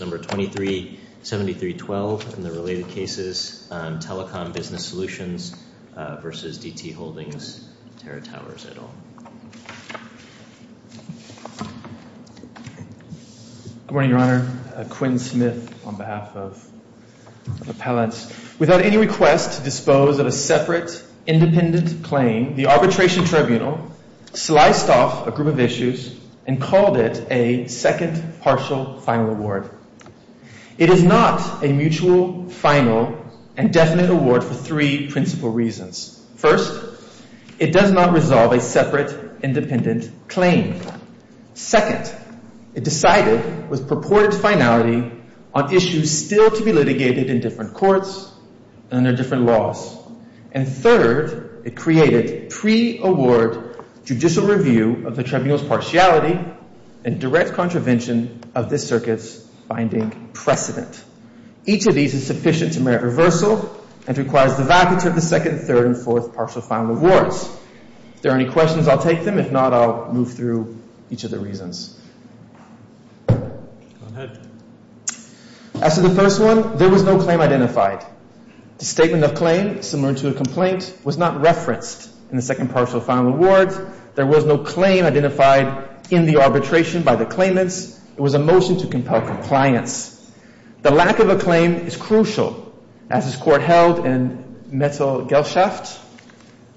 Number 237312 in the related cases, Telecom Business Solutions versus D.T. Holdings, Terra Towers, et al. Good morning, Your Honor. Quinn Smith on behalf of appellants. Without any request to dispose of a separate independent claim, the arbitration tribunal sliced off a group of issues and called it a second partial final award. It is not a mutual final and definite award for three principal reasons. First, it does not resolve a separate independent claim. Second, it decided with purported finality on issues still to be litigated in different courts and under different laws. And third, it created pre-award judicial review of the tribunal's partiality and direct contravention of this circuit's binding precedent. Each of these is sufficient to merit reversal and requires the vacancy of the second, third, and fourth partial final awards. If there are any questions, I'll take them. If not, I'll move through each of the reasons. As to the first one, there was no claim identified. The statement of claim, similar to a complaint, was not referenced in the second partial final awards. There was no claim identified in the arbitration by the claimants. It was a motion to compel compliance. The lack of a claim is crucial, as this court held in Metzl-Gelshaft,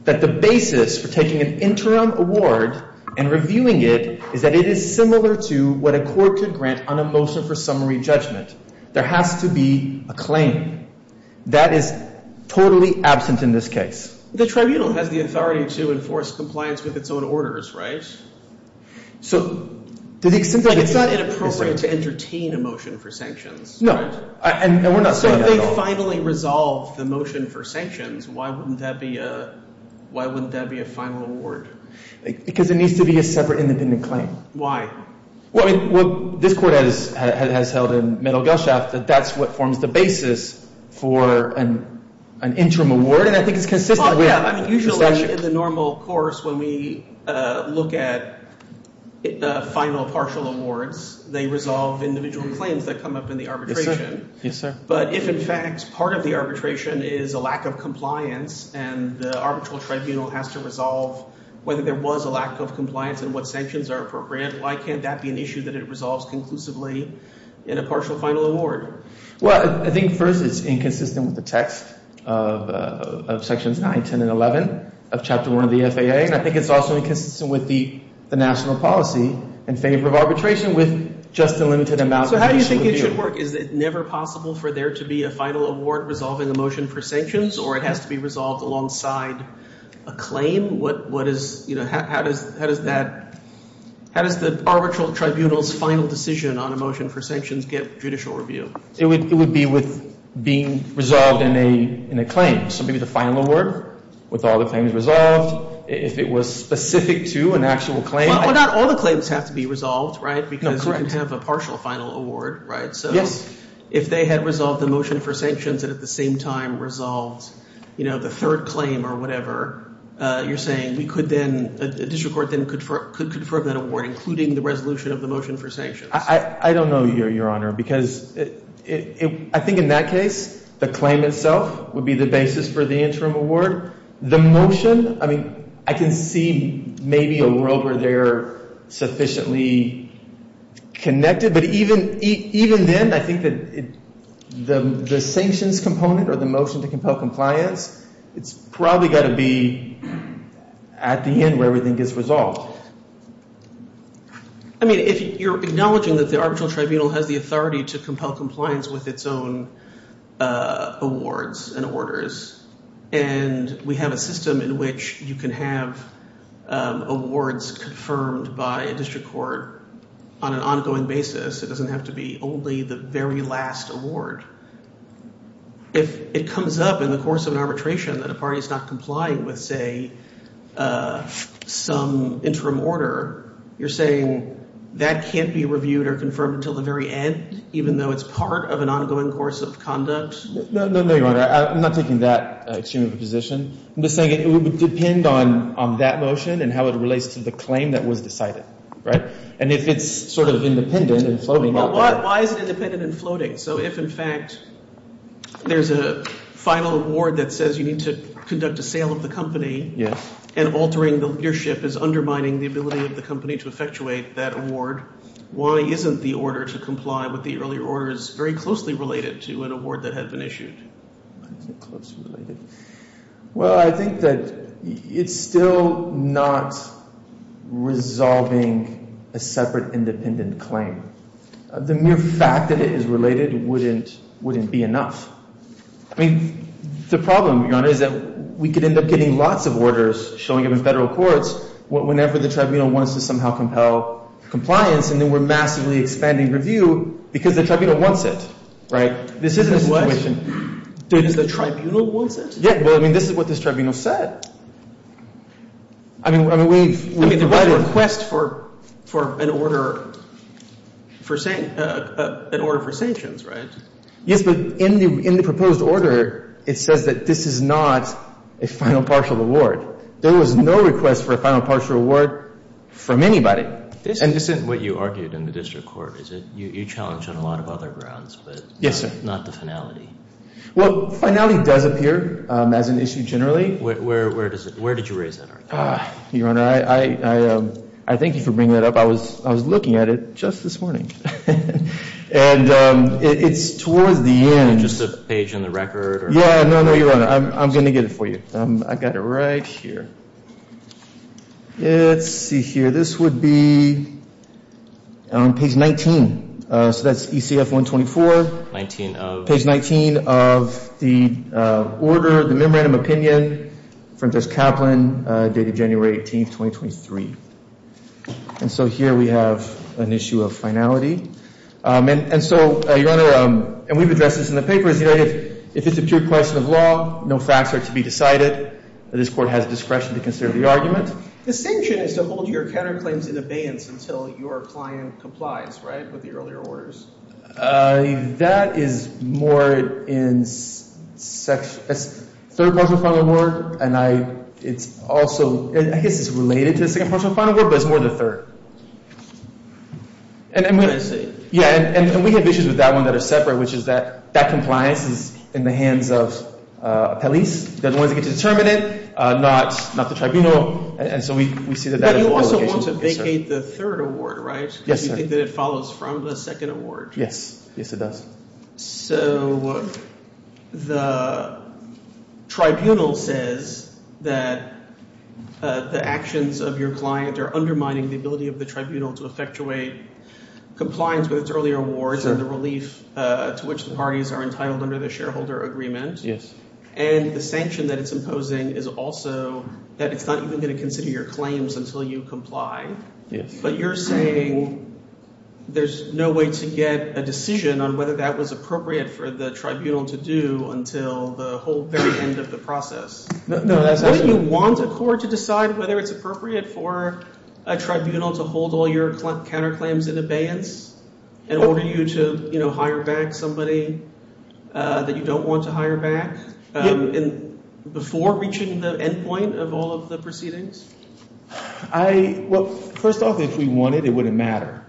that the basis for taking an interim award and reviewing it is that it is similar to what a court could grant on a motion for summary judgment. There has to be a claim. That is totally absent in this case. The tribunal has the authority to enforce compliance with its own orders, right? So to the extent that it's not inappropriate to entertain a motion for sanctions. No, and we're not. So if they finally resolve the motion for sanctions, why wouldn't that be a, why wouldn't that be a final award? Because it needs to be a separate independent claim. Well, I mean, this court has held in Metzl-Gelshaft that that's what forms the basis for an interim award, and I think it's consistent. Yeah, I mean, usually in the normal course, when we look at the final partial awards, they resolve individual claims that come up in the arbitration. Yes, sir. But if, in fact, part of the arbitration is a lack of compliance and the arbitral tribunal has to resolve whether there was a lack of compliance and what sanctions are appropriate, why can't that be an issue that it resolves conclusively in a partial final award? Well, I think first it's inconsistent with the text of Sections 9, 10, and 11 of Chapter 1 of the FAA, and I think it's also inconsistent with the national policy in favor of arbitration with just a limited amount of judicial review. So how do you think it should work? Is it never possible for there to be a final award resolving a motion for sanctions or it has to be resolved alongside a claim? What, what is, you know, how does, how does that, how does the arbitral tribunal's final decision on a motion for sanctions get judicial review? It would, it would be with being resolved in a, in a claim. So maybe the final award with all the claims resolved, if it was specific to an actual claim. Well, not all the claims have to be resolved, right? Because you can have a partial final award, right? So if they had resolved the motion for sanctions and at the same time resolved, you know, the third claim or whatever, you're saying we could then, a district court then could, could confirm that award, including the resolution of the motion for sanctions. I, I don't know, Your Honor, because it, it, I think in that case, the claim itself would be the basis for the interim award. The motion, I mean, I can see maybe a road where they're sufficiently connected, but even, even then, I think that it, the, the sanctions component or the motion to compel compliance, it's probably got to be at the end where everything gets resolved. I mean, if you're acknowledging that the arbitral tribunal has the authority to compel compliance with its own awards and orders, and we have a system in which you can have awards confirmed by a district court on an ongoing basis, it doesn't have to be only the very last award. If it comes up in the course of an arbitration that a party is not complying with, say, some interim order, you're saying that can't be reviewed or confirmed until the very end, even though it's part of an ongoing course of conduct? No, no, no, Your Honor. I'm not taking that extreme of a position. I'm just saying it would depend on, on that motion and how it relates to the claim that was decided, right? And if it's sort of independent and floating out there. Why, why is it independent and floating? So if, in fact, there's a final award that says you need to conduct a sale of the company and altering the leadership is undermining the ability of the company to effectuate that award, why isn't the order to comply with the earlier order is very closely related to an award that had been issued? Well, I think that it's still not resolving a separate independent claim. The mere fact that it is related wouldn't, wouldn't be enough. I mean, the problem, Your Honor, is that we could end up getting lots of orders showing up in federal courts whenever the tribunal wants to somehow compel compliance and then we're massively expanding review because the tribunal wants it, right? This isn't a situation. Does the tribunal want it? Yeah. Well, I mean, this is what this tribunal said. I mean, I mean, we've, we've provided a request for, for an order for, an order for sanctions, right? Yes, but in the, in the proposed order, it says that this is not a final partial award. There was no request for a final partial award from anybody. This isn't what you argued in the district court, is it? You, you challenged on a lot of other grounds, but not the finality. Well, finality does appear as an issue generally. Where, where, where does it, where did you raise that argument? Your Honor, I, I, I thank you for bringing that up. I was, I was looking at it just this morning. And it's towards the end. Just a page in the record? Yeah, no, no, Your Honor. I'm, I'm going to get it for you. I got it right here. Let's see here. This would be on page 19. So that's ECF 124. 19 of? Page 19 of the order, the memorandum of opinion from Judge Kaplan dated January 18th, 2023. And so here we have an issue of finality. And, and so, Your Honor, and we've addressed this in the papers, you know, if, if it's a pure question of law, no facts are to be decided, this court has discretion to consider the argument. The sanction is to hold your counterclaims in abeyance until your client complies, right, with the earlier orders. That is more in section, third partial final award, and I, it's also, I guess it's related to the second partial final award, but it's more the third. And I'm going to say. Yeah, and we have issues with that one that are separate, which is that, that compliance is in the hands of police. They're the ones that get to determine it, not, not the tribunal. And so we, we see that that is an obligation. But you also want to vacate the third award, right? Yes, sir. I just think that it follows from the second award. Yes, it does. So the tribunal says that the actions of your client are undermining the ability of the tribunal to effectuate compliance with its earlier awards and the relief to which the parties are entitled under the shareholder agreement. Yes. And the sanction that it's imposing is also that it's not even going to consider your claims until you comply. Yes. But you're saying there's no way to get a decision on whether that was appropriate for the tribunal to do until the whole very end of the process. No, that's actually. Wouldn't you want a court to decide whether it's appropriate for a tribunal to hold all your counterclaims in abeyance and order you to, you know, hire back somebody that you don't want to hire back before reaching the end point of all of the proceedings? Well, first off, if we wanted, it wouldn't matter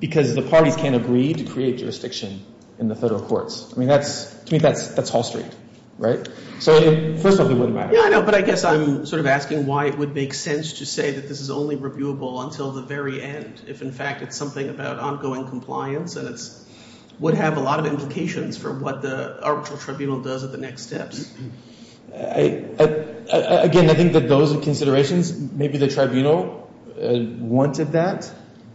because the parties can't agree to create jurisdiction in the federal courts. I mean, to me, that's Hall Street, right? So first off, it wouldn't matter. Yeah, I know. But I guess I'm sort of asking why it would make sense to say that this is only reviewable until the very end if, in fact, it's something about ongoing compliance and it would have a lot of implications for what the arbitral tribunal does at the next steps. Again, I think that those are considerations. Maybe the tribunal wanted that,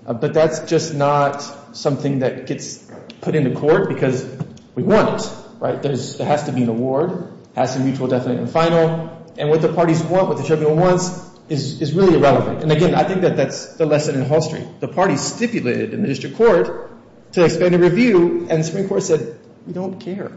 but that's just not something that gets put into court because we want it, right? There has to be an award. It has to be mutual, definite, and final. And what the parties want, what the tribunal wants is really irrelevant. And again, I think that that's the lesson in Hall Street. The parties stipulated in the district court to expand the review, and the Supreme Court said we don't care,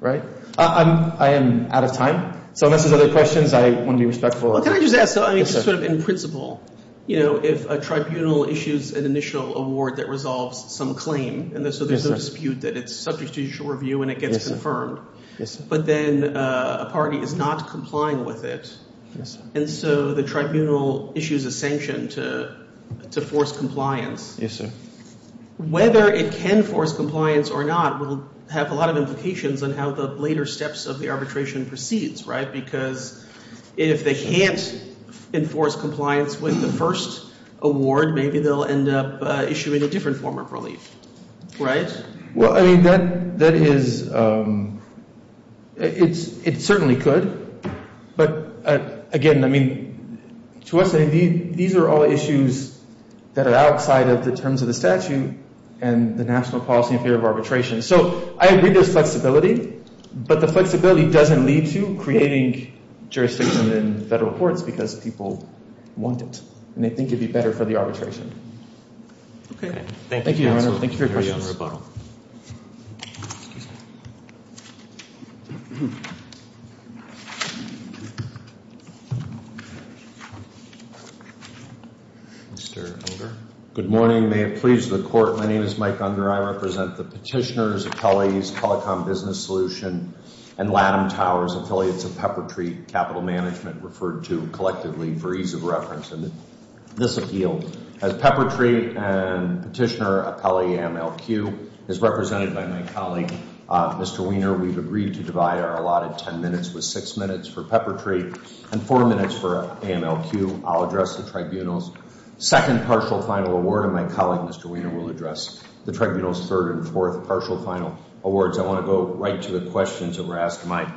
right? I am out of time. So unless there's other questions, I want to be respectful. Well, can I just ask sort of in principle, you know, if a tribunal issues an initial award that resolves some claim, and so there's no dispute that it's subject to judicial review and it gets confirmed. Yes, sir. But then a party is not complying with it. Yes, sir. And so the tribunal issues a sanction to force compliance. Yes, sir. Whether it can force compliance or not will have a lot of implications on how the later steps of the arbitration proceeds, right? Because if they can't enforce compliance with the first award, maybe they'll end up issuing a different form of relief, right? Well, I mean, that is – it certainly could. But again, I mean, to us, these are all issues that are outside of the terms of the statute and the national policy in favor of arbitration. So I agree there's flexibility, but the flexibility doesn't lead to creating jurisdiction in federal courts because people want it and they think it would be better for the arbitration. Okay. Thank you, counsel. Thank you for your questions. Mr. Unger. Good morning. May it please the court, my name is Mike Unger. I represent the petitioners, appellees, Pelicom Business Solution, and Latham Towers, affiliates of Peppertree Capital Management, referred to collectively for ease of reference in this appeal. As Peppertree and petitioner appellee MLQ is represented by my colleague, Mr. Wiener, we've agreed to divide our allotted ten minutes with six minutes for Peppertree and four minutes for MLQ. I'll address the tribunal's second partial final award, and my colleague, Mr. Wiener, will address the tribunal's third and fourth partial final awards. I want to go right to the questions that were asked. My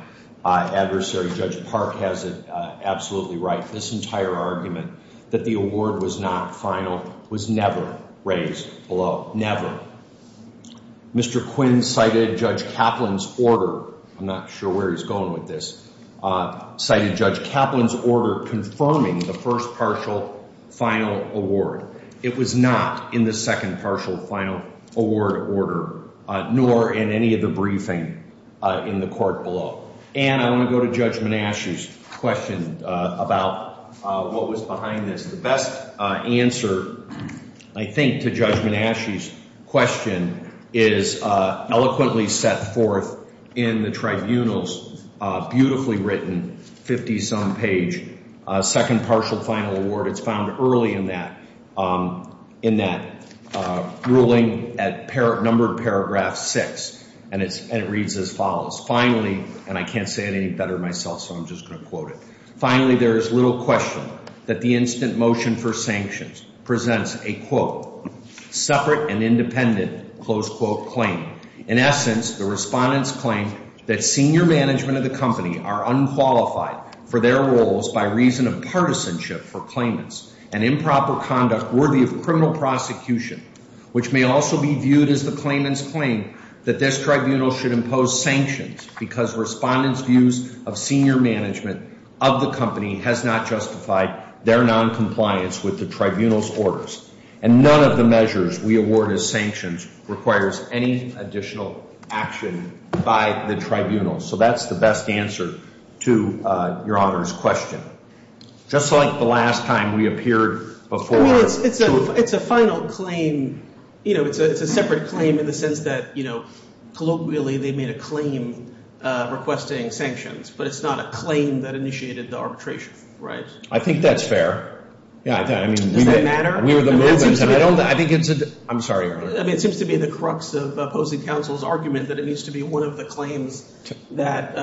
adversary, Judge Park, has it absolutely right. This entire argument that the award was not final was never raised below. Mr. Quinn cited Judge Kaplan's order. I'm not sure where he's going with this. Cited Judge Kaplan's order confirming the first partial final award. It was not in the second partial final award order, nor in any of the briefing in the court below. And I want to go to Judge Menasche's question about what was behind this. The best answer, I think, to Judge Menasche's question is eloquently set forth in the tribunal's beautifully written 50-some page second partial final award. It's found early in that ruling at number paragraph six, and it reads as follows. Finally, and I can't say it any better myself, so I'm just going to quote it. Finally, there is little question that the instant motion for sanctions presents a, quote, separate and independent, close quote, claim. In essence, the respondents claim that senior management of the company are unqualified for their roles by reason of partisanship for claimants, and improper conduct worthy of criminal prosecution, which may also be viewed as the claimant's claim that this tribunal should impose sanctions because respondents' views of senior management of the company has not justified their noncompliance with the tribunal's orders. And none of the measures we award as sanctions requires any additional action by the tribunal. So that's the best answer to your honor's question. Just like the last time we appeared before. I mean, it's a final claim. You know, it's a separate claim in the sense that, you know, colloquially they made a claim requesting sanctions, but it's not a claim that initiated the arbitration, right? I think that's fair. Does that matter? We were the movement. I think it's a – I'm sorry. I mean, it seems to be the crux of opposing counsel's argument that it needs to be one of the claims that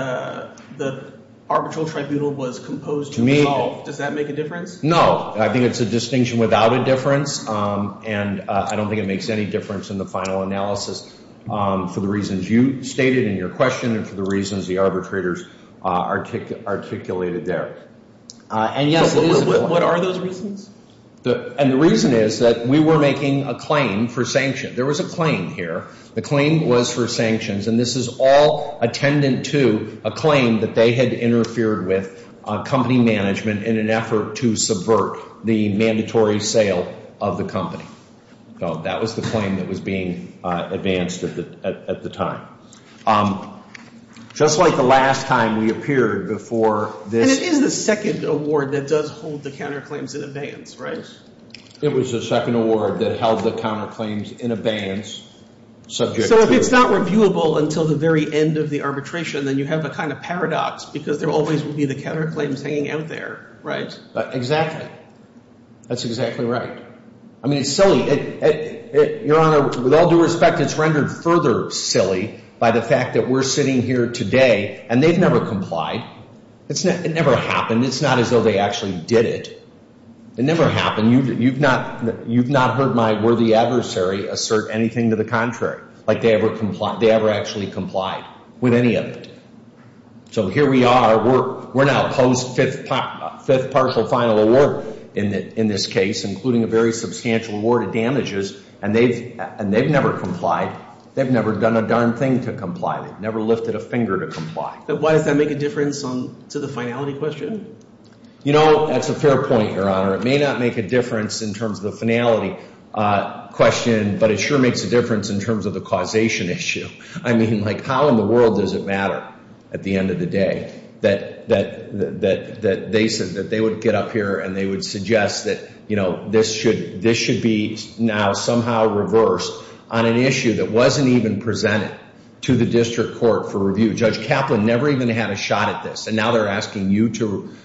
the arbitral tribunal was composed to resolve. Does that make a difference? No. I think it's a distinction without a difference, and I don't think it makes any difference in the final analysis for the reasons you stated in your question and for the reasons the arbitrators articulated there. And yes, it is – What are those reasons? And the reason is that we were making a claim for sanctions. There was a claim here. The claim was for sanctions, and this is all attendant to a claim that they had interfered with company management in an effort to subvert the mandatory sale of the company. So that was the claim that was being advanced at the time. Just like the last time we appeared before this – It was the second award that held the counterclaims in abeyance subject to – So if it's not reviewable until the very end of the arbitration, then you have a kind of paradox because there always will be the counterclaims hanging out there, right? Exactly. That's exactly right. I mean, it's silly. Your Honor, with all due respect, it's rendered further silly by the fact that we're sitting here today, and they've never complied. It never happened. It's not as though they actually did it. It never happened. You've not heard my worthy adversary assert anything to the contrary, like they ever actually complied with any of it. So here we are. We're now post-fifth partial final award in this case, including a very substantial award of damages, and they've never complied. They've never done a darn thing to comply. They've never lifted a finger to comply. Why does that make a difference to the finality question? You know, that's a fair point, Your Honor. It may not make a difference in terms of the finality question, but it sure makes a difference in terms of the causation issue. I mean, like how in the world does it matter at the end of the day that they would get up here and they would suggest that, you know, this should be now somehow reversed on an issue that wasn't even presented to the district court for review? Judge Kaplan never even had a shot at this, and now they're asking you to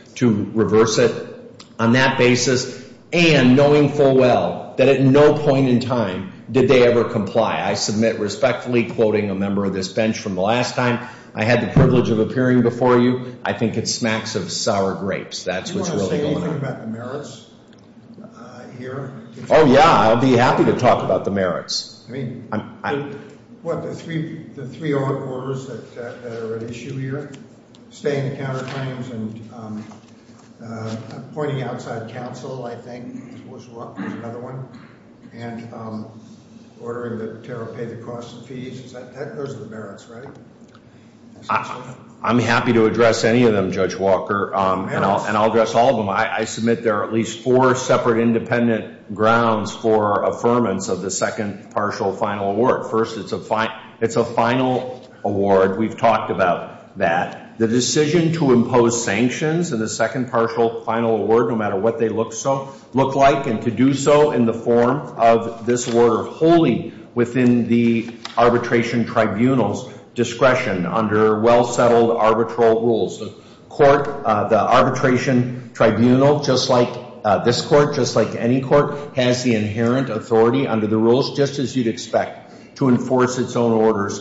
reverse it on that basis, and knowing full well that at no point in time did they ever comply. I submit respectfully, quoting a member of this bench from the last time, I had the privilege of appearing before you. I think it smacks of sour grapes. That's what's really going on. Do you want to say anything about the merits here? Oh, yeah. I'll be happy to talk about the merits. What, the three orders that are at issue here? Staying the counter claims and pointing outside counsel, I think, was another one, and ordering that Terrell pay the costs and fees? Those are the merits, right? I'm happy to address any of them, Judge Walker, and I'll address all of them. I submit there are at least four separate independent grounds for affirmance of the second partial final award. First, it's a final award. We've talked about that. The decision to impose sanctions in the second partial final award, no matter what they look like, and to do so in the form of this order wholly within the arbitration tribunal's discretion under well-settled arbitral rules. The arbitration tribunal, just like this court, just like any court, has the inherent authority under the rules, just as you'd expect, to enforce its own orders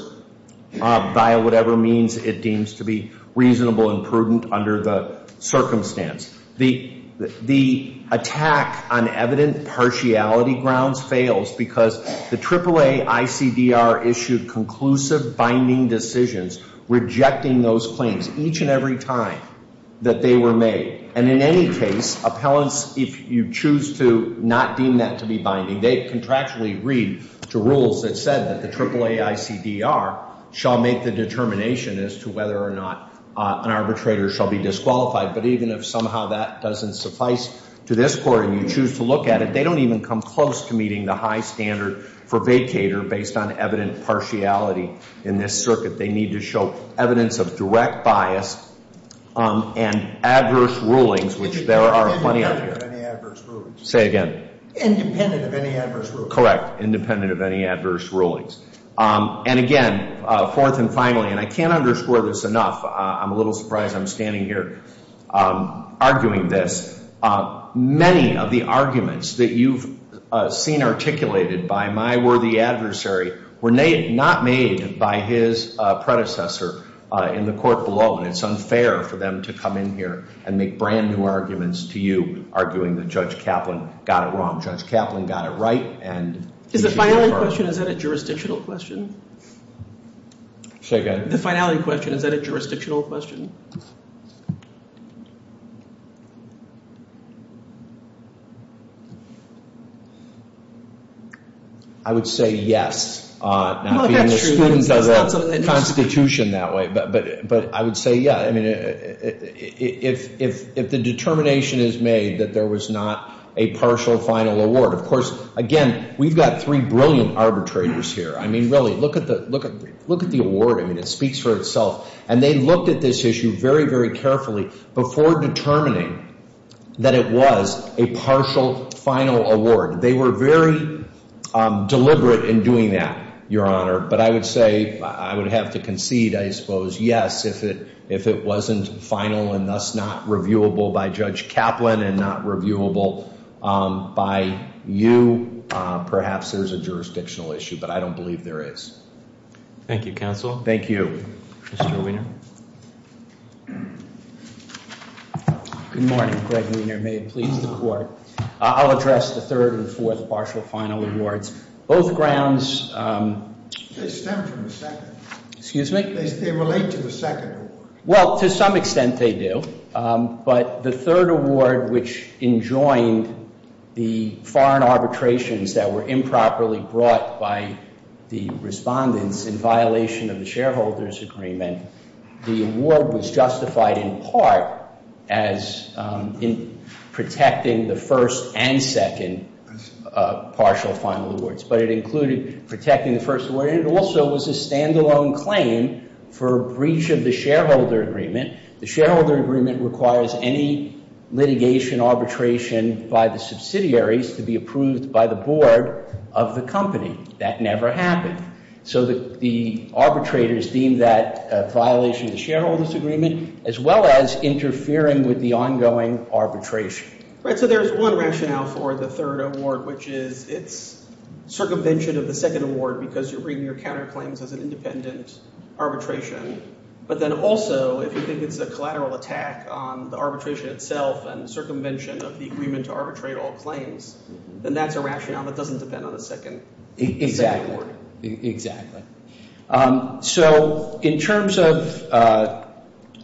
via whatever means it deems to be reasonable and prudent under the circumstance. The attack on evident partiality grounds fails because the AAA ICDR issued conclusive binding decisions rejecting those claims. Each and every time that they were made, and in any case, appellants, if you choose to not deem that to be binding, they contractually read to rules that said that the AAA ICDR shall make the determination as to whether or not an arbitrator shall be disqualified. But even if somehow that doesn't suffice to this court and you choose to look at it, they don't even come close to meeting the high standard for vacater based on evident partiality in this circuit. They need to show evidence of direct bias and adverse rulings, which there are plenty of here. Say it again. Independent of any adverse rulings. Correct. Independent of any adverse rulings. And again, fourth and finally, and I can't underscore this enough. I'm a little surprised I'm standing here arguing this. Many of the arguments that you've seen articulated by my worthy adversary were not made by his predecessor in the court below. And it's unfair for them to come in here and make brand new arguments to you, arguing that Judge Kaplan got it wrong. Judge Kaplan got it right. Is the final question, is that a jurisdictional question? Say again. The final question, is that a jurisdictional question? I would say yes. Not being a student of the Constitution that way, but I would say yeah. I mean, if the determination is made that there was not a partial final award. Of course, again, we've got three brilliant arbitrators here. I mean, really, look at the award. I mean, it speaks for itself. And they looked at this issue very, very carefully before determining that it was a partial final award. They were very deliberate in doing that, Your Honor. But I would say, I would have to concede, I suppose, yes. If it wasn't final and thus not reviewable by Judge Kaplan and not reviewable by you, perhaps there's a jurisdictional issue. But I don't believe there is. Thank you, Counsel. Thank you, Mr. Wiener. Good morning, Greg Wiener. May it please the Court. I'll address the third and fourth partial final awards. Both grounds- They stem from the second. Excuse me? They relate to the second award. agreement, the award was justified in part as in protecting the first and second partial final awards. But it included protecting the first award. And it also was a standalone claim for breach of the shareholder agreement. The shareholder agreement requires any litigation, arbitration by the subsidiaries to be approved by the board of the company. That never happened. So the arbitrators deemed that a violation of the shareholder's agreement as well as interfering with the ongoing arbitration. Right, so there's one rationale for the third award, which is it's circumvention of the second award because you're bringing your counterclaims as an independent arbitration. But then also, if you think it's a collateral attack on the arbitration itself and circumvention of the agreement to arbitrate all claims, then that's a rationale that doesn't depend on the second award. Exactly, exactly. So in terms of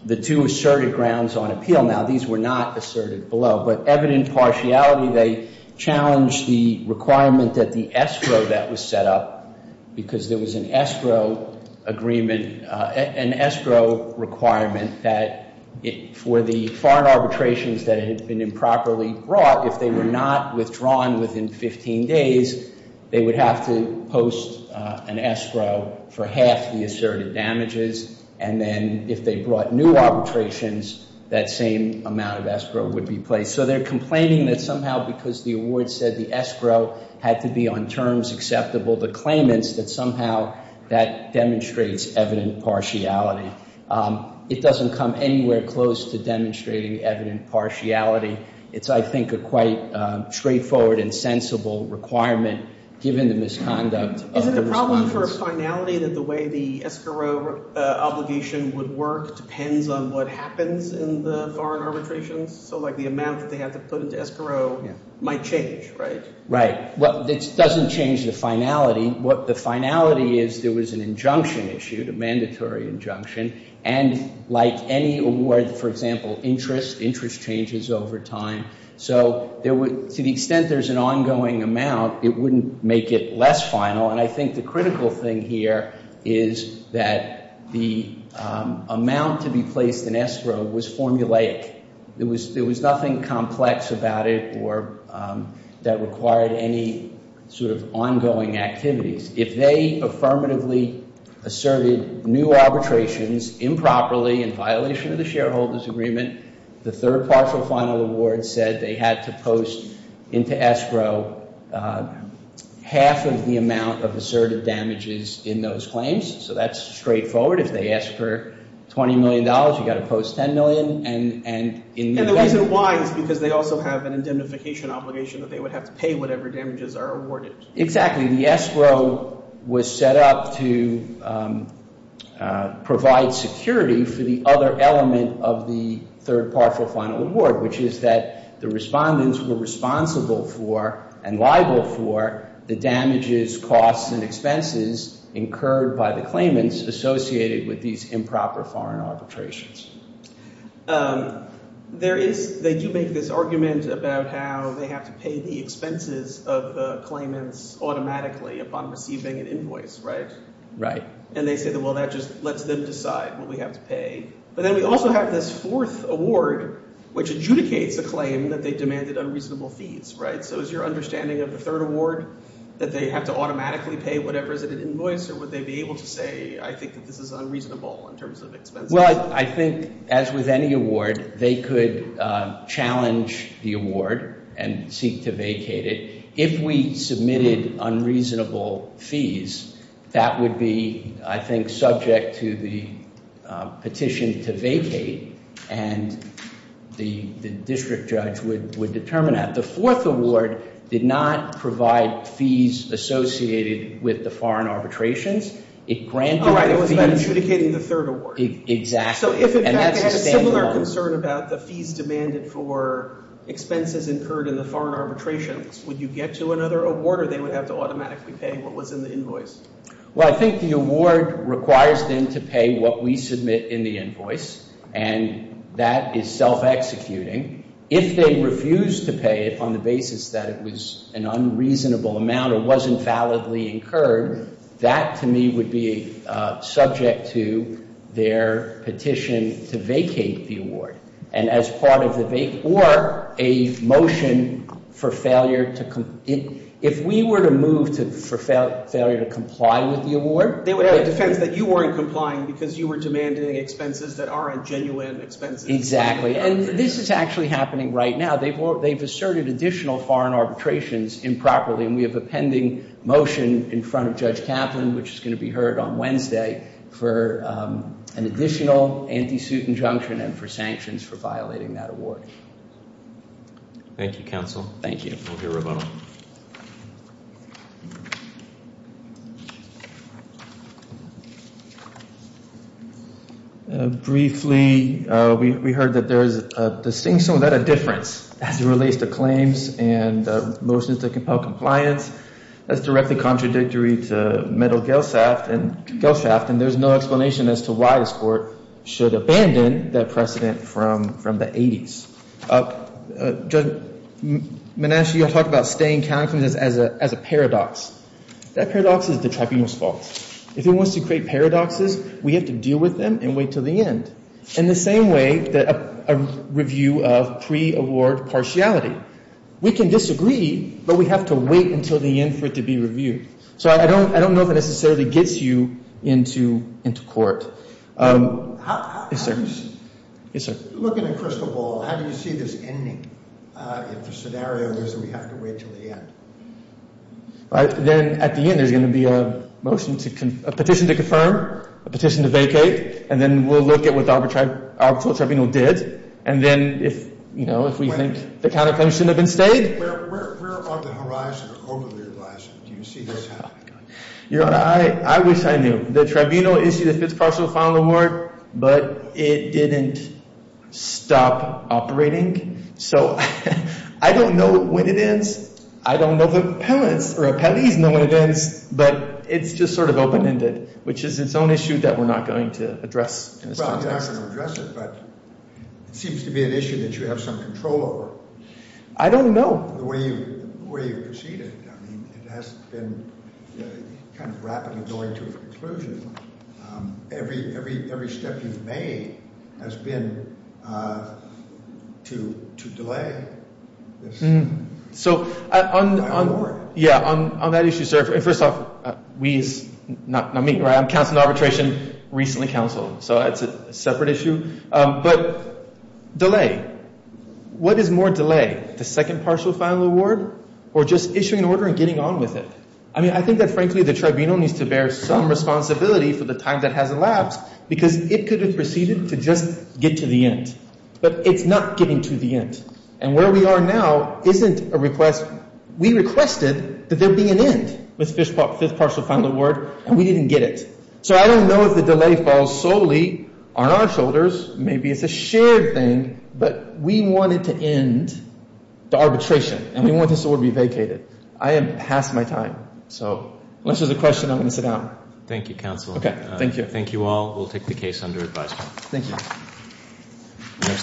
the two asserted grounds on appeal now, these were not asserted below. But evident partiality, they challenged the requirement that the escrow that was set up because there was an escrow agreement, an escrow requirement that for the foreign arbitrations that had been improperly brought, if they were not withdrawn within 15 days, they would have to post an escrow for half the asserted damages. And then if they brought new arbitrations, that same amount of escrow would be placed. So they're complaining that somehow because the award said the escrow had to be on terms acceptable, the claimants that somehow that demonstrates evident partiality. It doesn't come anywhere close to demonstrating evident partiality. It's, I think, a quite straightforward and sensible requirement given the misconduct. Is it a problem for a finality that the way the escrow obligation would work depends on what happens in the foreign arbitrations? So like the amount that they have to put into escrow might change, right? Right. Well, it doesn't change the finality. What the finality is, there was an injunction issued, a mandatory injunction. And like any award, for example, interest, interest changes over time. So to the extent there's an ongoing amount, it wouldn't make it less final. And I think the critical thing here is that the amount to be placed in escrow was formulaic. There was nothing complex about it or that required any sort of ongoing activities. If they affirmatively asserted new arbitrations improperly in violation of the shareholders' agreement, the third partial final award said they had to post into escrow half of the amount of asserted damages in those claims. So that's straightforward. If they ask for $20 million, you've got to post $10 million. And the reason why is because they also have an indemnification obligation that they would have to pay whatever damages are awarded. Exactly. The escrow was set up to provide security for the other element of the third partial final award, which is that the respondents were responsible for and liable for the damages, costs, and expenses incurred by the claimants associated with these improper foreign arbitrations. There is – they do make this argument about how they have to pay the expenses of the claimants automatically upon receiving an invoice, right? Right. And they say, well, that just lets them decide what we have to pay. But then we also have this fourth award, which adjudicates the claim that they demanded unreasonable fees, right? So is your understanding of the third award that they have to automatically pay whatever is in an invoice or would they be able to say, I think that this is unreasonable in terms of expenses? Well, I think, as with any award, they could challenge the award and seek to vacate it. If we submitted unreasonable fees, that would be, I think, subject to the petition to vacate, and the district judge would determine that. The fourth award did not provide fees associated with the foreign arbitrations. It granted the fees. Exactly. So if, in fact, they had a similar concern about the fees demanded for expenses incurred in the foreign arbitrations, would you get to another award or they would have to automatically pay what was in the invoice? Well, I think the award requires them to pay what we submit in the invoice, and that is self-executing. If they refuse to pay it on the basis that it was an unreasonable amount or wasn't validly incurred, that, to me, would be subject to their petition to vacate the award, and as part of the vacate or a motion for failure to comply with the award. They would have a defense that you weren't complying because you were demanding expenses that aren't genuine expenses. Exactly, and this is actually happening right now. They've asserted additional foreign arbitrations improperly, and we have a pending motion in front of Judge Kaplan, which is going to be heard on Wednesday, for an additional anti-suit injunction and for sanctions for violating that award. Thank you, counsel. Thank you. We'll hear from him. Briefly, we heard that there is a distinction without a difference as it relates to claims and motions that compel compliance. That's directly contradictory to metal gel shaft, and there's no explanation as to why this court should abandon that precedent from the 80s. Judge Menasche, you talked about staying confident as a paradox. That paradox is the tribunal's fault. If it wants to create paradoxes, we have to deal with them and wait until the end, in the same way that a review of pre-award partiality. We can disagree, but we have to wait until the end for it to be reviewed. So I don't know if it necessarily gets you into court. Yes, sir. Looking at crystal ball, how do you see this ending? If the scenario is that we have to wait until the end. Then at the end, there's going to be a petition to confirm, a petition to vacate, and then we'll look at what the arbitral tribunal did, and then if we think the counter-claims shouldn't have been stayed. Where on the horizon or over the horizon do you see this happening? I wish I knew. The tribunal issued a fifth partial final award, but it didn't stop operating. So I don't know when it ends. I don't know the appellees know when it ends, but it's just sort of open-ended, which is its own issue that we're not going to address. Well, you're not going to address it, but it seems to be an issue that you have some control over. I don't know. Well, the way you've proceeded, I mean, it has been kind of rapidly going to a conclusion. Every step you've made has been to delay this award. Yeah, on that issue, sir, first off, we is not me. I'm counsel to arbitration, recently counseled, so it's a separate issue. But delay. What is more delay, the second partial final award or just issuing an order and getting on with it? I mean, I think that, frankly, the tribunal needs to bear some responsibility for the time that has elapsed because it could have proceeded to just get to the end, but it's not getting to the end. And where we are now isn't a request. We requested that there be an end with the fifth partial final award, and we didn't get it. So I don't know if the delay falls solely on our shoulders. Maybe it's a shared thing, but we wanted to end the arbitration, and we want this award to be vacated. I am past my time. So unless there's a question, I'm going to sit down. Thank you, counsel. Okay, thank you. Thank you all. We'll take the case under advisement. Thank you.